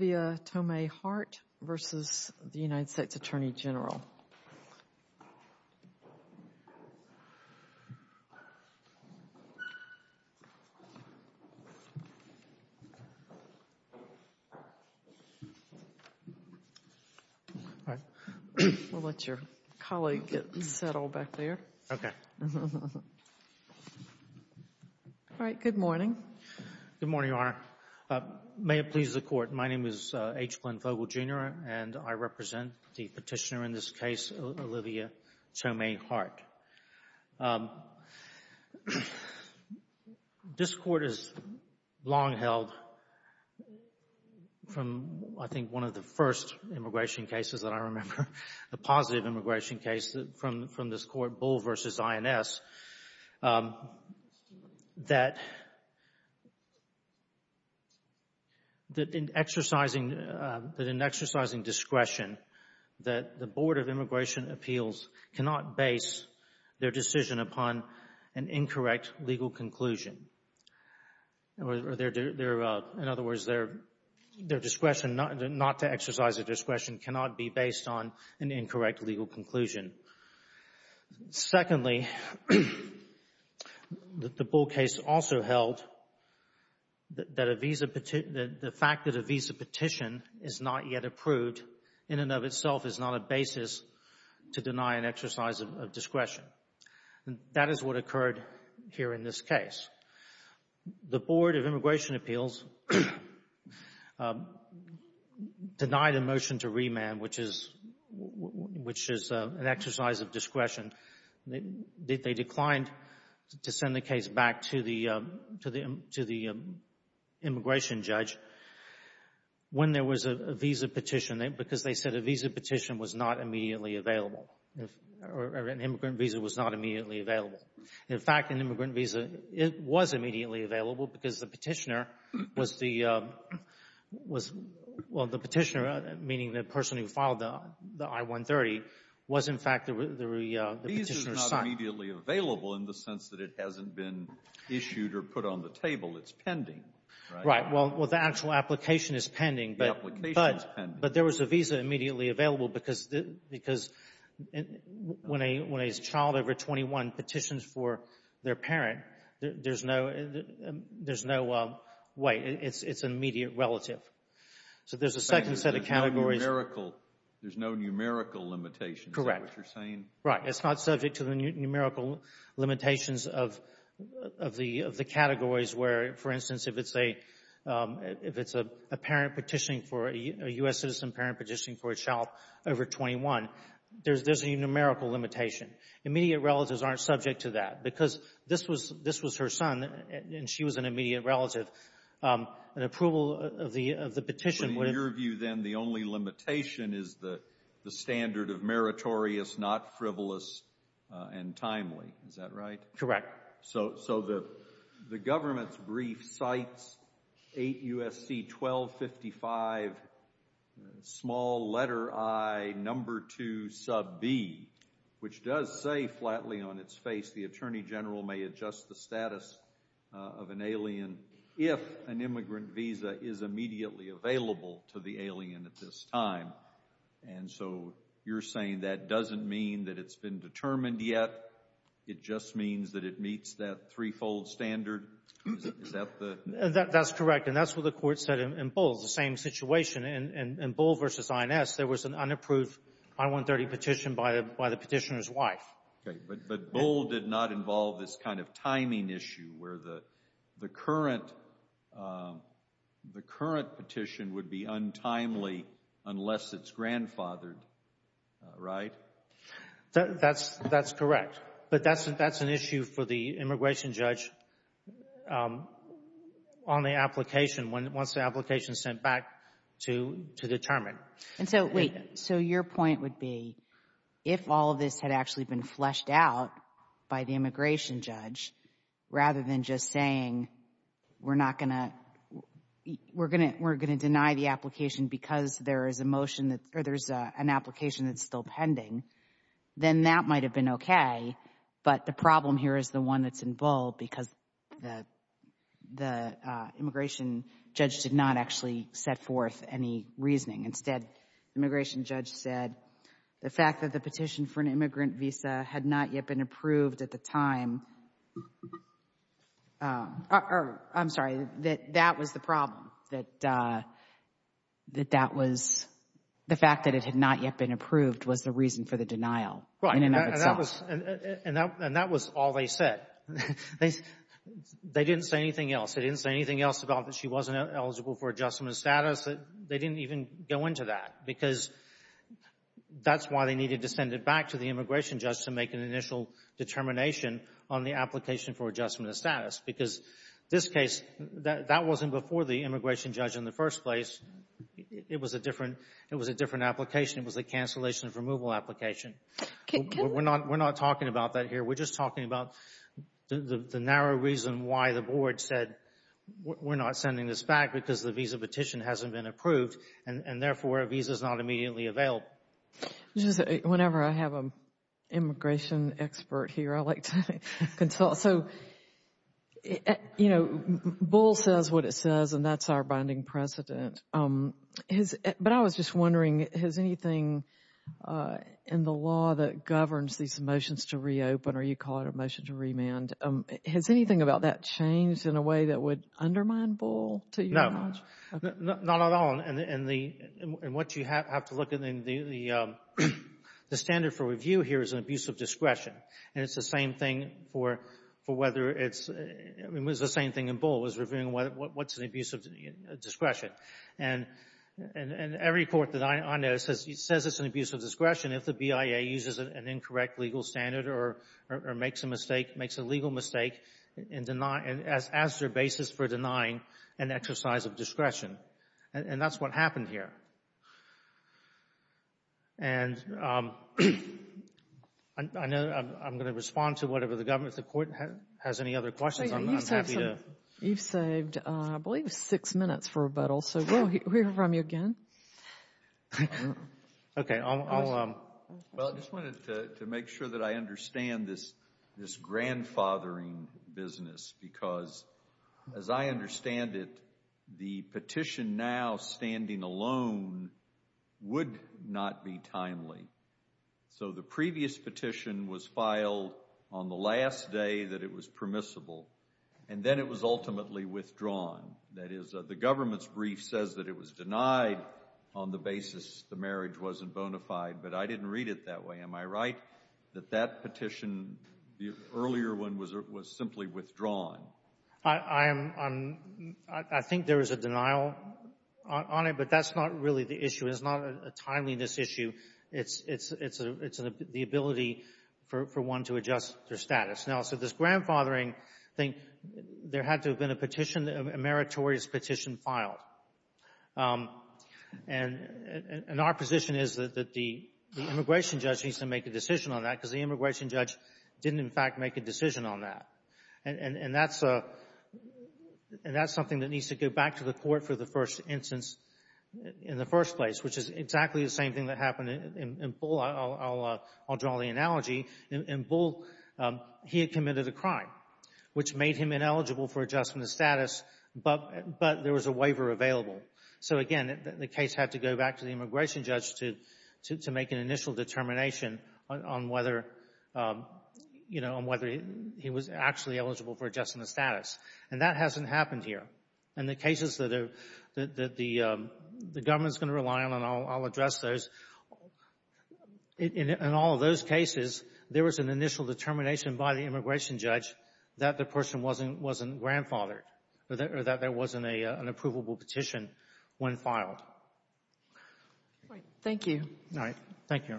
Good morning, Your Honor. May it please the Court, my name is H. Glenn Vogel, Jr. and I represent the petitioner in this case, Olivia Tomay-Hart. This Court has long held from, I think, one of the first immigration cases that I remember, a positive immigration case from this Court, Bull v. INS, that in exercising discretion, that the Board of Immigration Appeals cannot base their decision upon an incorrect legal conclusion or, in other words, their discretion not to exercise their discretion cannot be based on an incorrect legal conclusion. Secondly, the Bull case also held that the fact that a visa petition is not yet approved in and of itself is not a basis to deny an exercise of discretion. That is what occurred here in this case. The Board of Immigration Appeals denied a motion to remand, which is an exercise of discretion. They declined to send the case back to the immigration judge when there was a visa petition because they said a visa petition was not immediately available, or an immigrant visa was not immediately available. In fact, an immigrant visa was immediately available because the petitioner was the petitioner, meaning the person who filed the I-130, was, in fact, the petitioner's son. The visa is not immediately available in the sense that it hasn't been issued or put on the table. It's pending, right? Right. Well, the actual application is pending, but there was a visa immediately available because when a child over 21 petitions for their parent, there's no way. It's an immediate relative. So there's a second set of categories. There's no numerical limitation, is that what you're saying? Correct. It's not subject to the numerical limitations of the categories where, for instance, if it's a parent petitioning for a U.S. citizen, parent petitioning for a child over 21, there's a numerical limitation. Immediate relatives aren't subject to that because this was her son, and she was an immediate relative, and approval of the petition would have been... So in your view, then, the only limitation is the standard of meritorious, not frivolous, and timely, is that right? Correct. So the government's brief cites 8 U.S.C. 1255, small letter I, number 2, sub B, which does say flatly on its face, the Attorney General may adjust the status of an alien if an immigrant visa is immediately available to the alien at this time. And so you're saying that doesn't mean that it's been determined yet. It just means that it meets that threefold standard? Is that the... That's correct, and that's what the Court said in Bull, the same situation. In Bull v. INS, there was an unapproved I-130 petition by the petitioner's wife. Okay, but Bull did not involve this kind of timing issue where the current petition would be untimely unless it's grandfathered, right? That's correct, but that's an issue for the immigration judge on the application, once the application is sent back to determine. And so, wait, so your point would be, if all of this had actually been fleshed out by the immigration judge, rather than just saying, we're not going to, we're going to deny the then that might have been okay, but the problem here is the one that's in Bull because the immigration judge did not actually set forth any reasoning. Instead, the immigration judge said the fact that the petition for an immigrant visa had not yet been approved at the time, I'm sorry, that that was the problem, that that was, the fact that it had not yet been approved was the reason for the denial in and of itself. And that was all they said. They didn't say anything else. They didn't say anything else about that she wasn't eligible for adjustment of status. They didn't even go into that because that's why they needed to send it back to the immigration judge to make an initial determination on the application for adjustment of status because this case, that wasn't before the immigration judge in the first place. It was a different, it was a different application. It was a cancellation of removal application. We're not, we're not talking about that here. We're just talking about the narrow reason why the board said, we're not sending this back because the visa petition hasn't been approved and therefore a visa is not immediately available. Whenever I have an immigration expert here, I like to consult, so, you know, Bull says what it says and that's our binding precedent. But I was just wondering, has anything in the law that governs these motions to reopen or you call it a motion to remand, has anything about that changed in a way that would undermine Bull to your knowledge? No. Not at all. And the, and what you have to look at in the, the standard for review here is an abuse of discretion. And it's the same thing for, for whether it's, I mean, it was the same thing in Bull was reviewing what's an abuse of discretion. And every court that I know says it's an abuse of discretion if the BIA uses an incorrect legal standard or makes a mistake, makes a legal mistake in denying, as their basis for denying an exercise of discretion. And that's what happened here. And I know I'm going to respond to whatever the government, if the court has any other questions, I'm happy to. You've saved, I believe, six minutes for rebuttal. So we'll hear from you again. I'll, I'll. Well, I just wanted to, to make sure that I understand this, this grandfathering business because as I understand it, the petition now standing alone would not be timely. So the previous petition was filed on the last day that it was permissible. And then it was ultimately withdrawn. That is, the government's brief says that it was denied on the basis the marriage wasn't bona fide. But I didn't read it that way. Am I right that that petition, the earlier one, was, was simply withdrawn? I am, I'm, I think there is a denial on it, but that's not really the issue. It's not a timeliness issue. It's, it's, it's the ability for, for one to adjust their status. Now, so this grandfathering thing, there had to have been a petition, a meritorious petition filed. And, and our position is that, that the immigration judge needs to make a decision on that because the immigration judge didn't in fact make a decision on that. And that's a, and that's something that needs to go back to the court for the first instance in the first place, which is exactly the same thing that happened in Bull. I'll, I'll, I'll draw the analogy. In Bull, he had committed a crime, which made him ineligible for adjustment of status, but, but there was a waiver available. So again, the case had to go back to the immigration judge to, to, to make an initial determination on whether, you know, on whether he was actually eligible for adjustment of status. And that hasn't happened here. And the cases that are, that the, the government's going to rely on, and I'll, I'll address those, in, in, in all of those cases, there was an initial determination by the immigration judge that the person wasn't, wasn't grandfathered, or that, or that there wasn't a, an approvable petition when filed. Right. Thank you. All right. Thank you.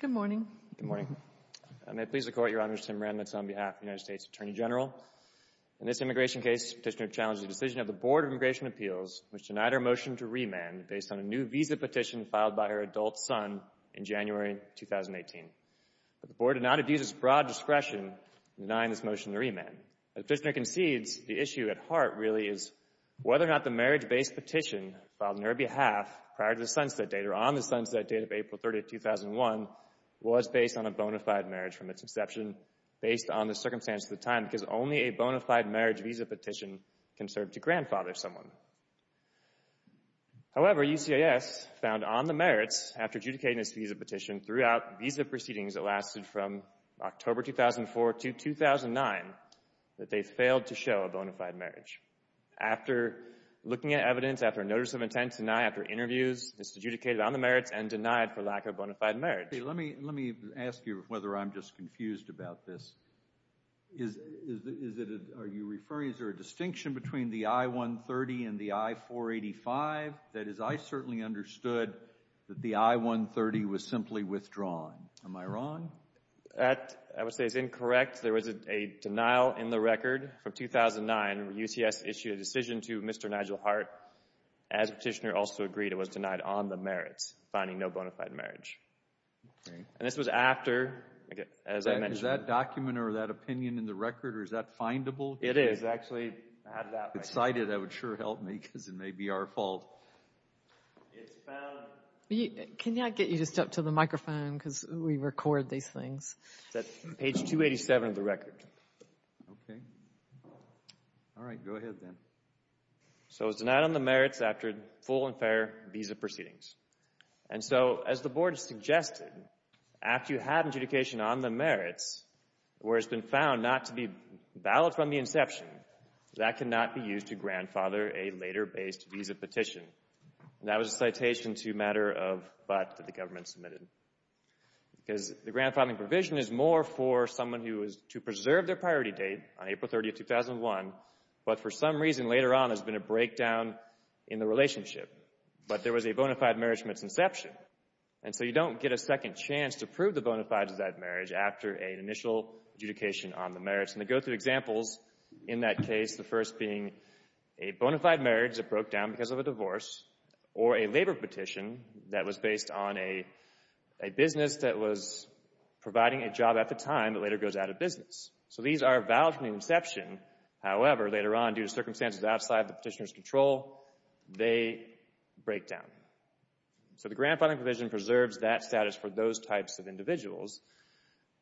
Good morning. Good morning. And may it please the Court, Your Honor, Sam Randnitz on behalf of the United States Attorney In this immigration case, Petitioner challenged the decision of the Board of Immigration Appeals, which denied her motion to remand based on a new visa petition filed by her adult son in January 2018. But the Board denied a visa's broad discretion in denying this motion to remand. As Petitioner concedes, the issue at heart, really, is whether or not the marriage-based petition filed on her behalf prior to the sunset date, or on the sunset date of April 30, 2001, was based on a bona fide marriage from its inception, based on the circumstance of the time, because only a bona fide marriage visa petition can serve to grandfather someone. However, UCIS found on the merits, after adjudicating this visa petition, throughout visa proceedings that lasted from October 2004 to 2009, that they failed to show a bona fide marriage. After looking at evidence, after notice of intent to deny, after interviews, it's adjudicated on the merits and denied for lack of bona fide marriage. Let me ask you whether I'm just confused about this. Is it, are you referring, is there a distinction between the I-130 and the I-485? That is, I certainly understood that the I-130 was simply withdrawing. Am I wrong? That, I would say, is incorrect. There was a denial in the record from 2009, where UCS issued a decision to Mr. Nigel Hart, as Petitioner also agreed, it was denied on the merits, finding no bona fide marriage. And this was after, as I mentioned. Is that document or that opinion in the record, or is that findable? It is. If it's actually cited, that would sure help me, because it may be our fault. It's found. Can you, can I get you to step to the microphone, because we record these things. That's page 287 of the record. Okay. All right. Go ahead, then. So, it was denied on the merits after full and fair visa proceedings. And so, as the Board suggested, after you have adjudication on the merits, where it's been found not to be valid from the inception, that cannot be used to grandfather a later-based visa petition. And that was a citation to matter of but that the government submitted, because the grandfathering provision is more for someone who is to preserve their priority date on April 30th, 2001, but for some reason later on, there's been a breakdown in the relationship. But there was a bona fide marriage from its inception. And so, you don't get a second chance to prove the bona fide of that marriage after an initial adjudication on the merits. And I go through examples in that case, the first being a bona fide marriage that broke down because of a divorce, or a labor petition that was based on a business that was providing a job at the time that later goes out of business. So these are valid from the inception. However, later on, due to circumstances outside the petitioner's control, they break down. So, the grandfathering provision preserves that status for those types of individuals,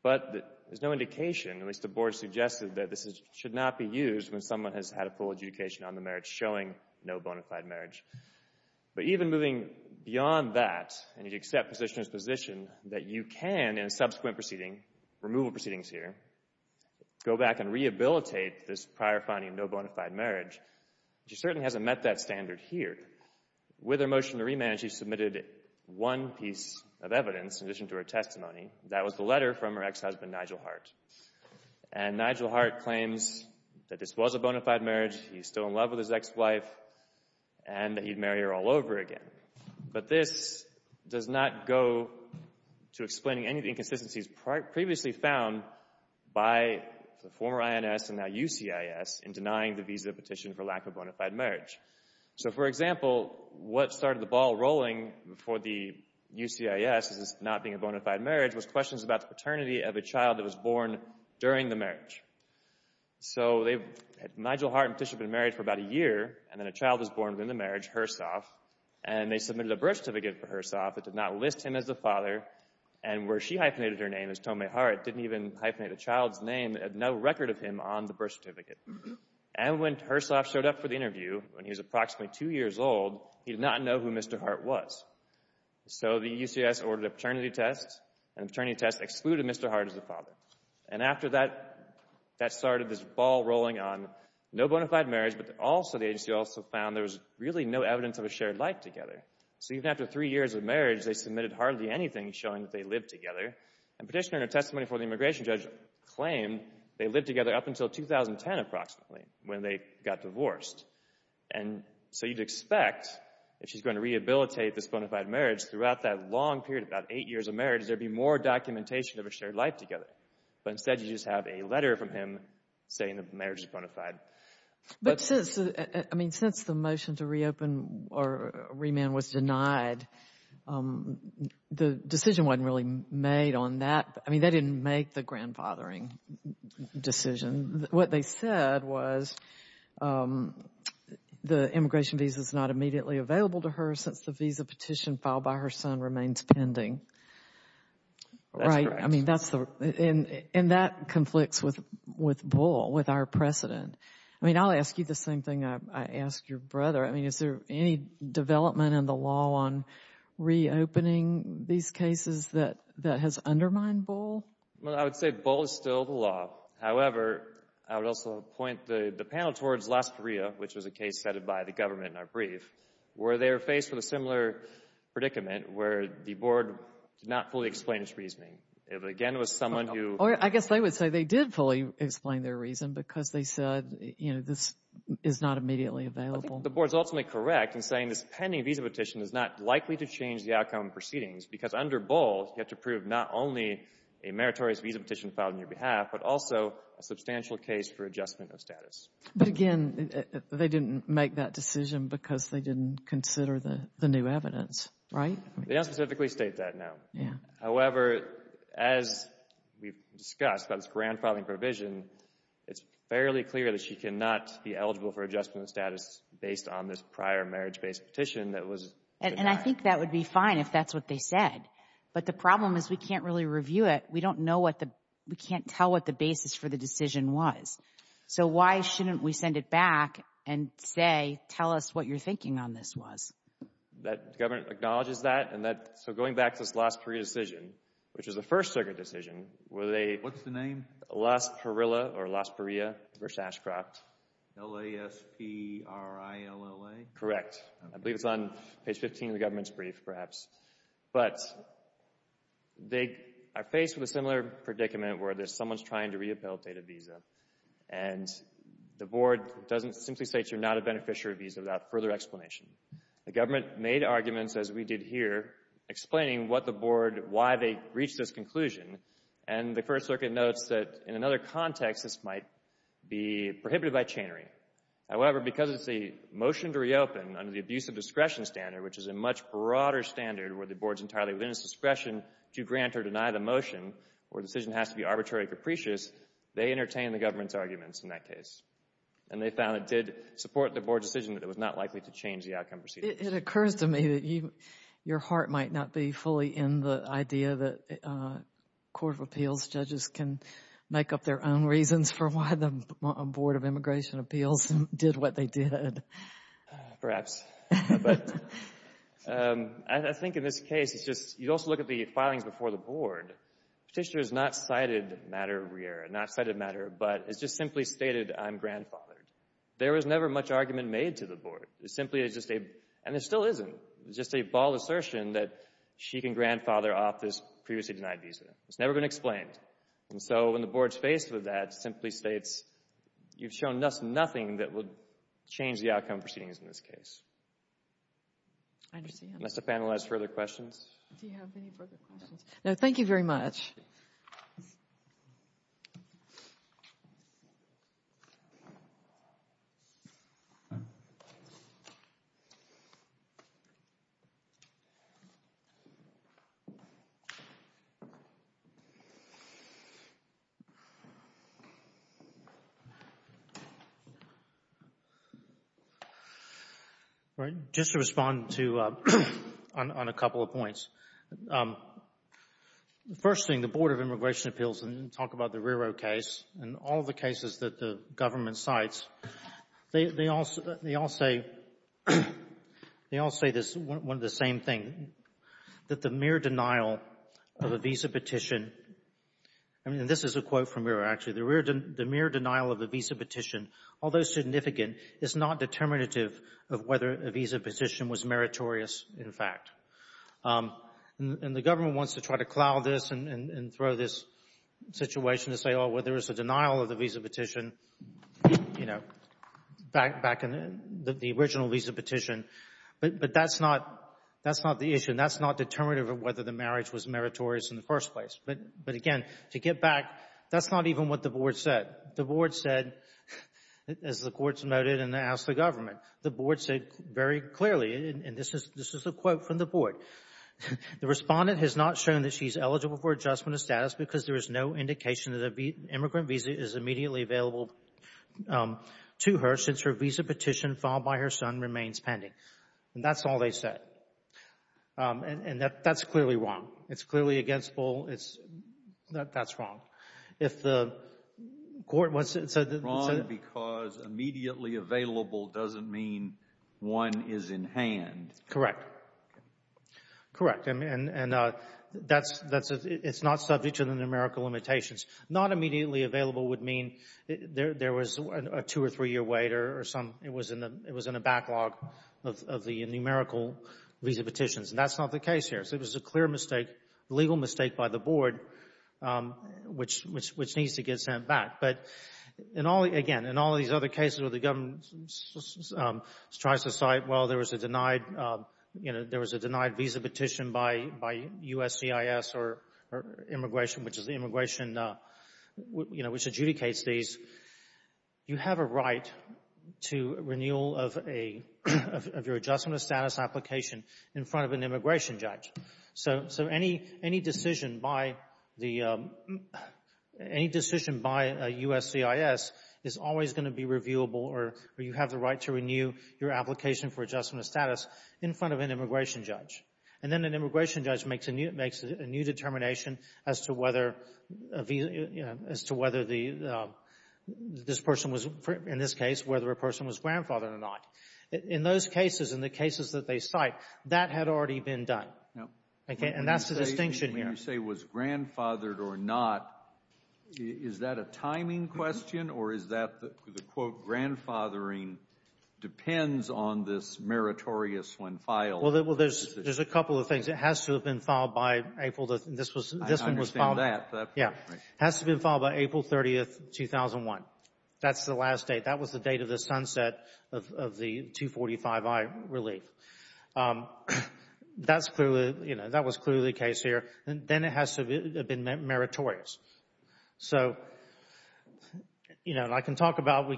but there's no indication, at least the Board suggested, that this should not be used when someone has had a full adjudication on the merits showing no bona fide marriage. But even moving beyond that, and you accept the petitioner's position that you can, in subsequent proceedings, removal proceedings here, go back and rehabilitate this prior finding of no bona fide marriage, she certainly hasn't met that standard here. With her motion to remand, she submitted one piece of evidence in addition to her testimony. That was the letter from her ex-husband, Nigel Hart. And Nigel Hart claims that this was a bona fide marriage, he's still in love with his ex-wife, and that he'd marry her all over again. But this does not go to explaining any of the inconsistencies previously found by the former INS and now UCIS in denying the visa petition for lack of bona fide marriage. So for example, what started the ball rolling for the UCIS, this not being a bona fide marriage, was questions about the paternity of a child that was born during the marriage. So Nigel Hart and Tisha had been married for about a year, and then a child was born during the marriage, Hersoff, and they submitted a birth certificate for Hersoff that did not list him as the father, and where she hyphenated her name as Tomei Hart, didn't even hyphenate the child's name, had no record of him on the birth certificate. And when Hersoff showed up for the interview, when he was approximately two years old, he did not know who Mr. Hart was. So the UCIS ordered a paternity test, and the paternity test excluded Mr. Hart as the father. And after that, that started this ball rolling on no bona fide marriage, but also the agency also found there was really no evidence of a shared life together. So even after three years of marriage, they submitted hardly anything showing that they lived together, and petitioner in her testimony before the immigration judge claimed they lived together up until 2010, approximately, when they got divorced. And so you'd expect, if she's going to rehabilitate this bona fide marriage, throughout that long period, about eight years of marriage, there'd be more documentation of a shared life together. But instead, you just have a letter from him saying the marriage is bona fide. But since, I mean, since the motion to reopen or remand was denied, the decision wasn't really made on that. I mean, they didn't make the grandfathering decision. What they said was the immigration visa is not immediately available to her since the visa petition filed by her son remains pending. Right? That's correct. I mean, that's the, and that conflicts with Bull, with our precedent. I mean, I'll ask you the same thing I ask your brother. I mean, is there any development in the law on reopening these cases that has undermined Bull? Well, I would say Bull is still the law. However, I would also point the panel towards Las Parias, which was a case set by the government in our brief, where they were faced with a similar predicament where the board did not fully explain its reasoning. It, again, was someone who... Or I guess they would say they did fully explain their reason because they said, you know, this is not immediately available. I think the board is ultimately correct in saying this pending visa petition is not likely to change the outcome of proceedings because under Bull, you have to prove not only a meritorious visa petition filed on your behalf, but also a substantial case for adjustment of status. But again, they didn't make that decision because they didn't consider the new evidence. Right? They don't specifically state that now. Yeah. However, as we've discussed about this grand filing provision, it's fairly clear that she cannot be eligible for adjustment of status based on this prior marriage-based petition that was denied. And I think that would be fine if that's what they said. But the problem is we can't really review it. We don't know what the... We can't tell what the basis for the decision was. So, why shouldn't we send it back and say, tell us what you're thinking on this was? The government acknowledges that and that... So, going back to this Las Perea decision, which is a First Circuit decision, where they... What's the name? Las Perilla or Las Perea versus Ashcroft. L-A-S-P-R-I-L-L-A? Correct. I believe it's on page 15 of the government's brief, perhaps. But they are faced with a similar predicament where someone's trying to re-appeal a data visa and the board doesn't simply say that you're not a beneficiary visa without further explanation. The government made arguments, as we did here, explaining what the board... why they reached this conclusion. And the First Circuit notes that, in another context, this might be prohibited by chantering. However, because it's a motion to reopen under the abuse of discretion standard, which is a much broader standard where the board is entirely within its discretion to grant or deny the motion where the decision has to be arbitrary and capricious, they entertained the government's arguments in that case. And they found it did support the board's decision that it was not likely to change the outcome proceedings. It occurs to me that your heart might not be fully in the idea that Court of Appeals judges can make up their own reasons for why the Board of Immigration Appeals did what they did. Perhaps. But I think in this case it's just... you also look at the filings before the board. Petitioner has not cited matter re-error, not cited matter, but it's just simply stated I'm grandfathered. There was never much argument made to the board. It simply is just a... and it still isn't. It's just a bald assertion that she can grandfather off this previously denied visa. It's never been explained. And so when the board's faced with that, it simply states, you've shown nothing that would change the outcome proceedings in this case. I understand. Unless the panel has further questions. Do you have any further questions? No, thank you very much. All right. Just to respond to... on a couple of points. The first thing, the Board of Immigration Appeals, and you talk about the re-error case, and all the cases that the government cites, they all say... they all say this, one of the same thing, that the mere denial of a visa petition... and this is a quote from the re-error, actually. The mere denial of a visa petition, although significant, is not determinative of whether a visa petition was meritorious, in fact. And the government wants to try to cloud this and throw this situation to say, oh, well, there was a denial of the visa petition, you know, back in the original visa petition. But that's not the issue. And that's not determinative of whether the marriage was meritorious in the first place. But, again, to get back, that's not even what the board said. The board said, as the courts noted and asked the government, the board said very clearly, and this is a quote from the board, the respondent has not shown that she's eligible for adjustment of status because there is no indication that an immigrant visa is immediately available to her since her visa petition filed by her son remains pending. And that's all they said. And that's clearly wrong. It's clearly against Bull. That's wrong. If the court said that it's wrong because immediately available doesn't mean one is in hand. Correct. Correct. And it's not subject to the numerical limitations. Not immediately available would mean there was a two- or three-year wait or it was in a backlog of the numerical visa petitions. And that's not the case here. It was a clear mistake, legal mistake by the board, which needs to get sent back. But, again, in all these other cases where the government tries to cite, well, there was a denied visa petition by USCIS or immigration, which is the immigration, you know, which adjudicates these, you have a right to renewal of your adjustment of status application in front of an immigration judge. So any decision by USCIS is always going to be reviewable or you have the right to renew your application for adjustment of status in front of an immigration judge. And then an immigration judge makes a new determination as to whether this person was, in this case, whether a person was grandfathered or not. In those cases, in the cases that they cite, that had already been done. And that's the distinction here. When you say was grandfathered or not, is that a timing question or is that the, quote, grandfathering depends on this meritorious when filed? Well, there's a couple of things. It has to have been filed by April. This one was filed. I understand that. Yeah. It has to have been filed by April 30, 2001. That's the last date. That was the date of the sunset of the 245i relief. That's clearly, you know, that was clearly the case here. Then it has to have been meritorious. So, you know, I can talk about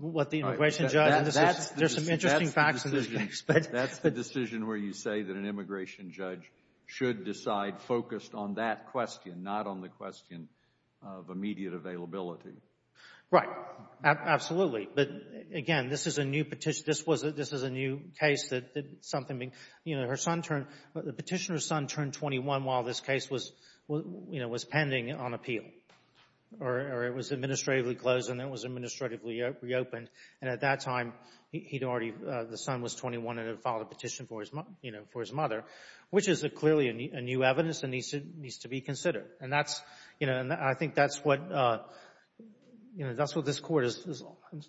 what the immigration judge. There's some interesting facts. That's the decision where you say that an immigration judge should decide focused on that question, not on the question of immediate availability. Right. Absolutely. But, again, this is a new petition. This was a new case that something, you know, her son turned, the petitioner's son turned 21 while this case was, you know, was pending on appeal or it was administratively closed and then it was administratively reopened. And at that time, he'd already, the son was 21 and had filed a petition for his, you know, for his mother, which is clearly a new evidence and needs to be considered. And that's, you know, I think that's what, you know, that's what this Court has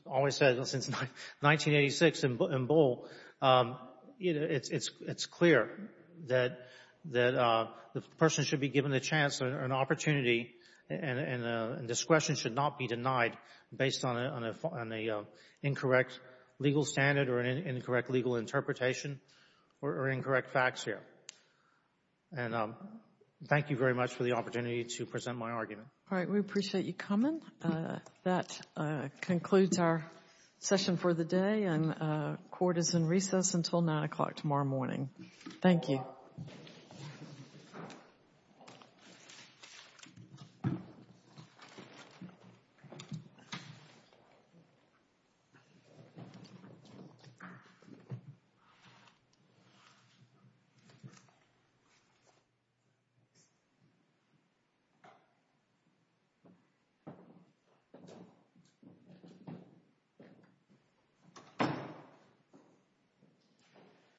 always said since 1986 in Bull. It's clear that the person should be given the chance or an opportunity and discretion should not be denied based on an incorrect legal standard or an incorrect legal interpretation or incorrect facts here. And thank you very much for the opportunity to present my argument. All right. We appreciate you coming. That concludes our session for the day. And the Court is in recess until 9 o'clock tomorrow morning. Thank you. Thank you.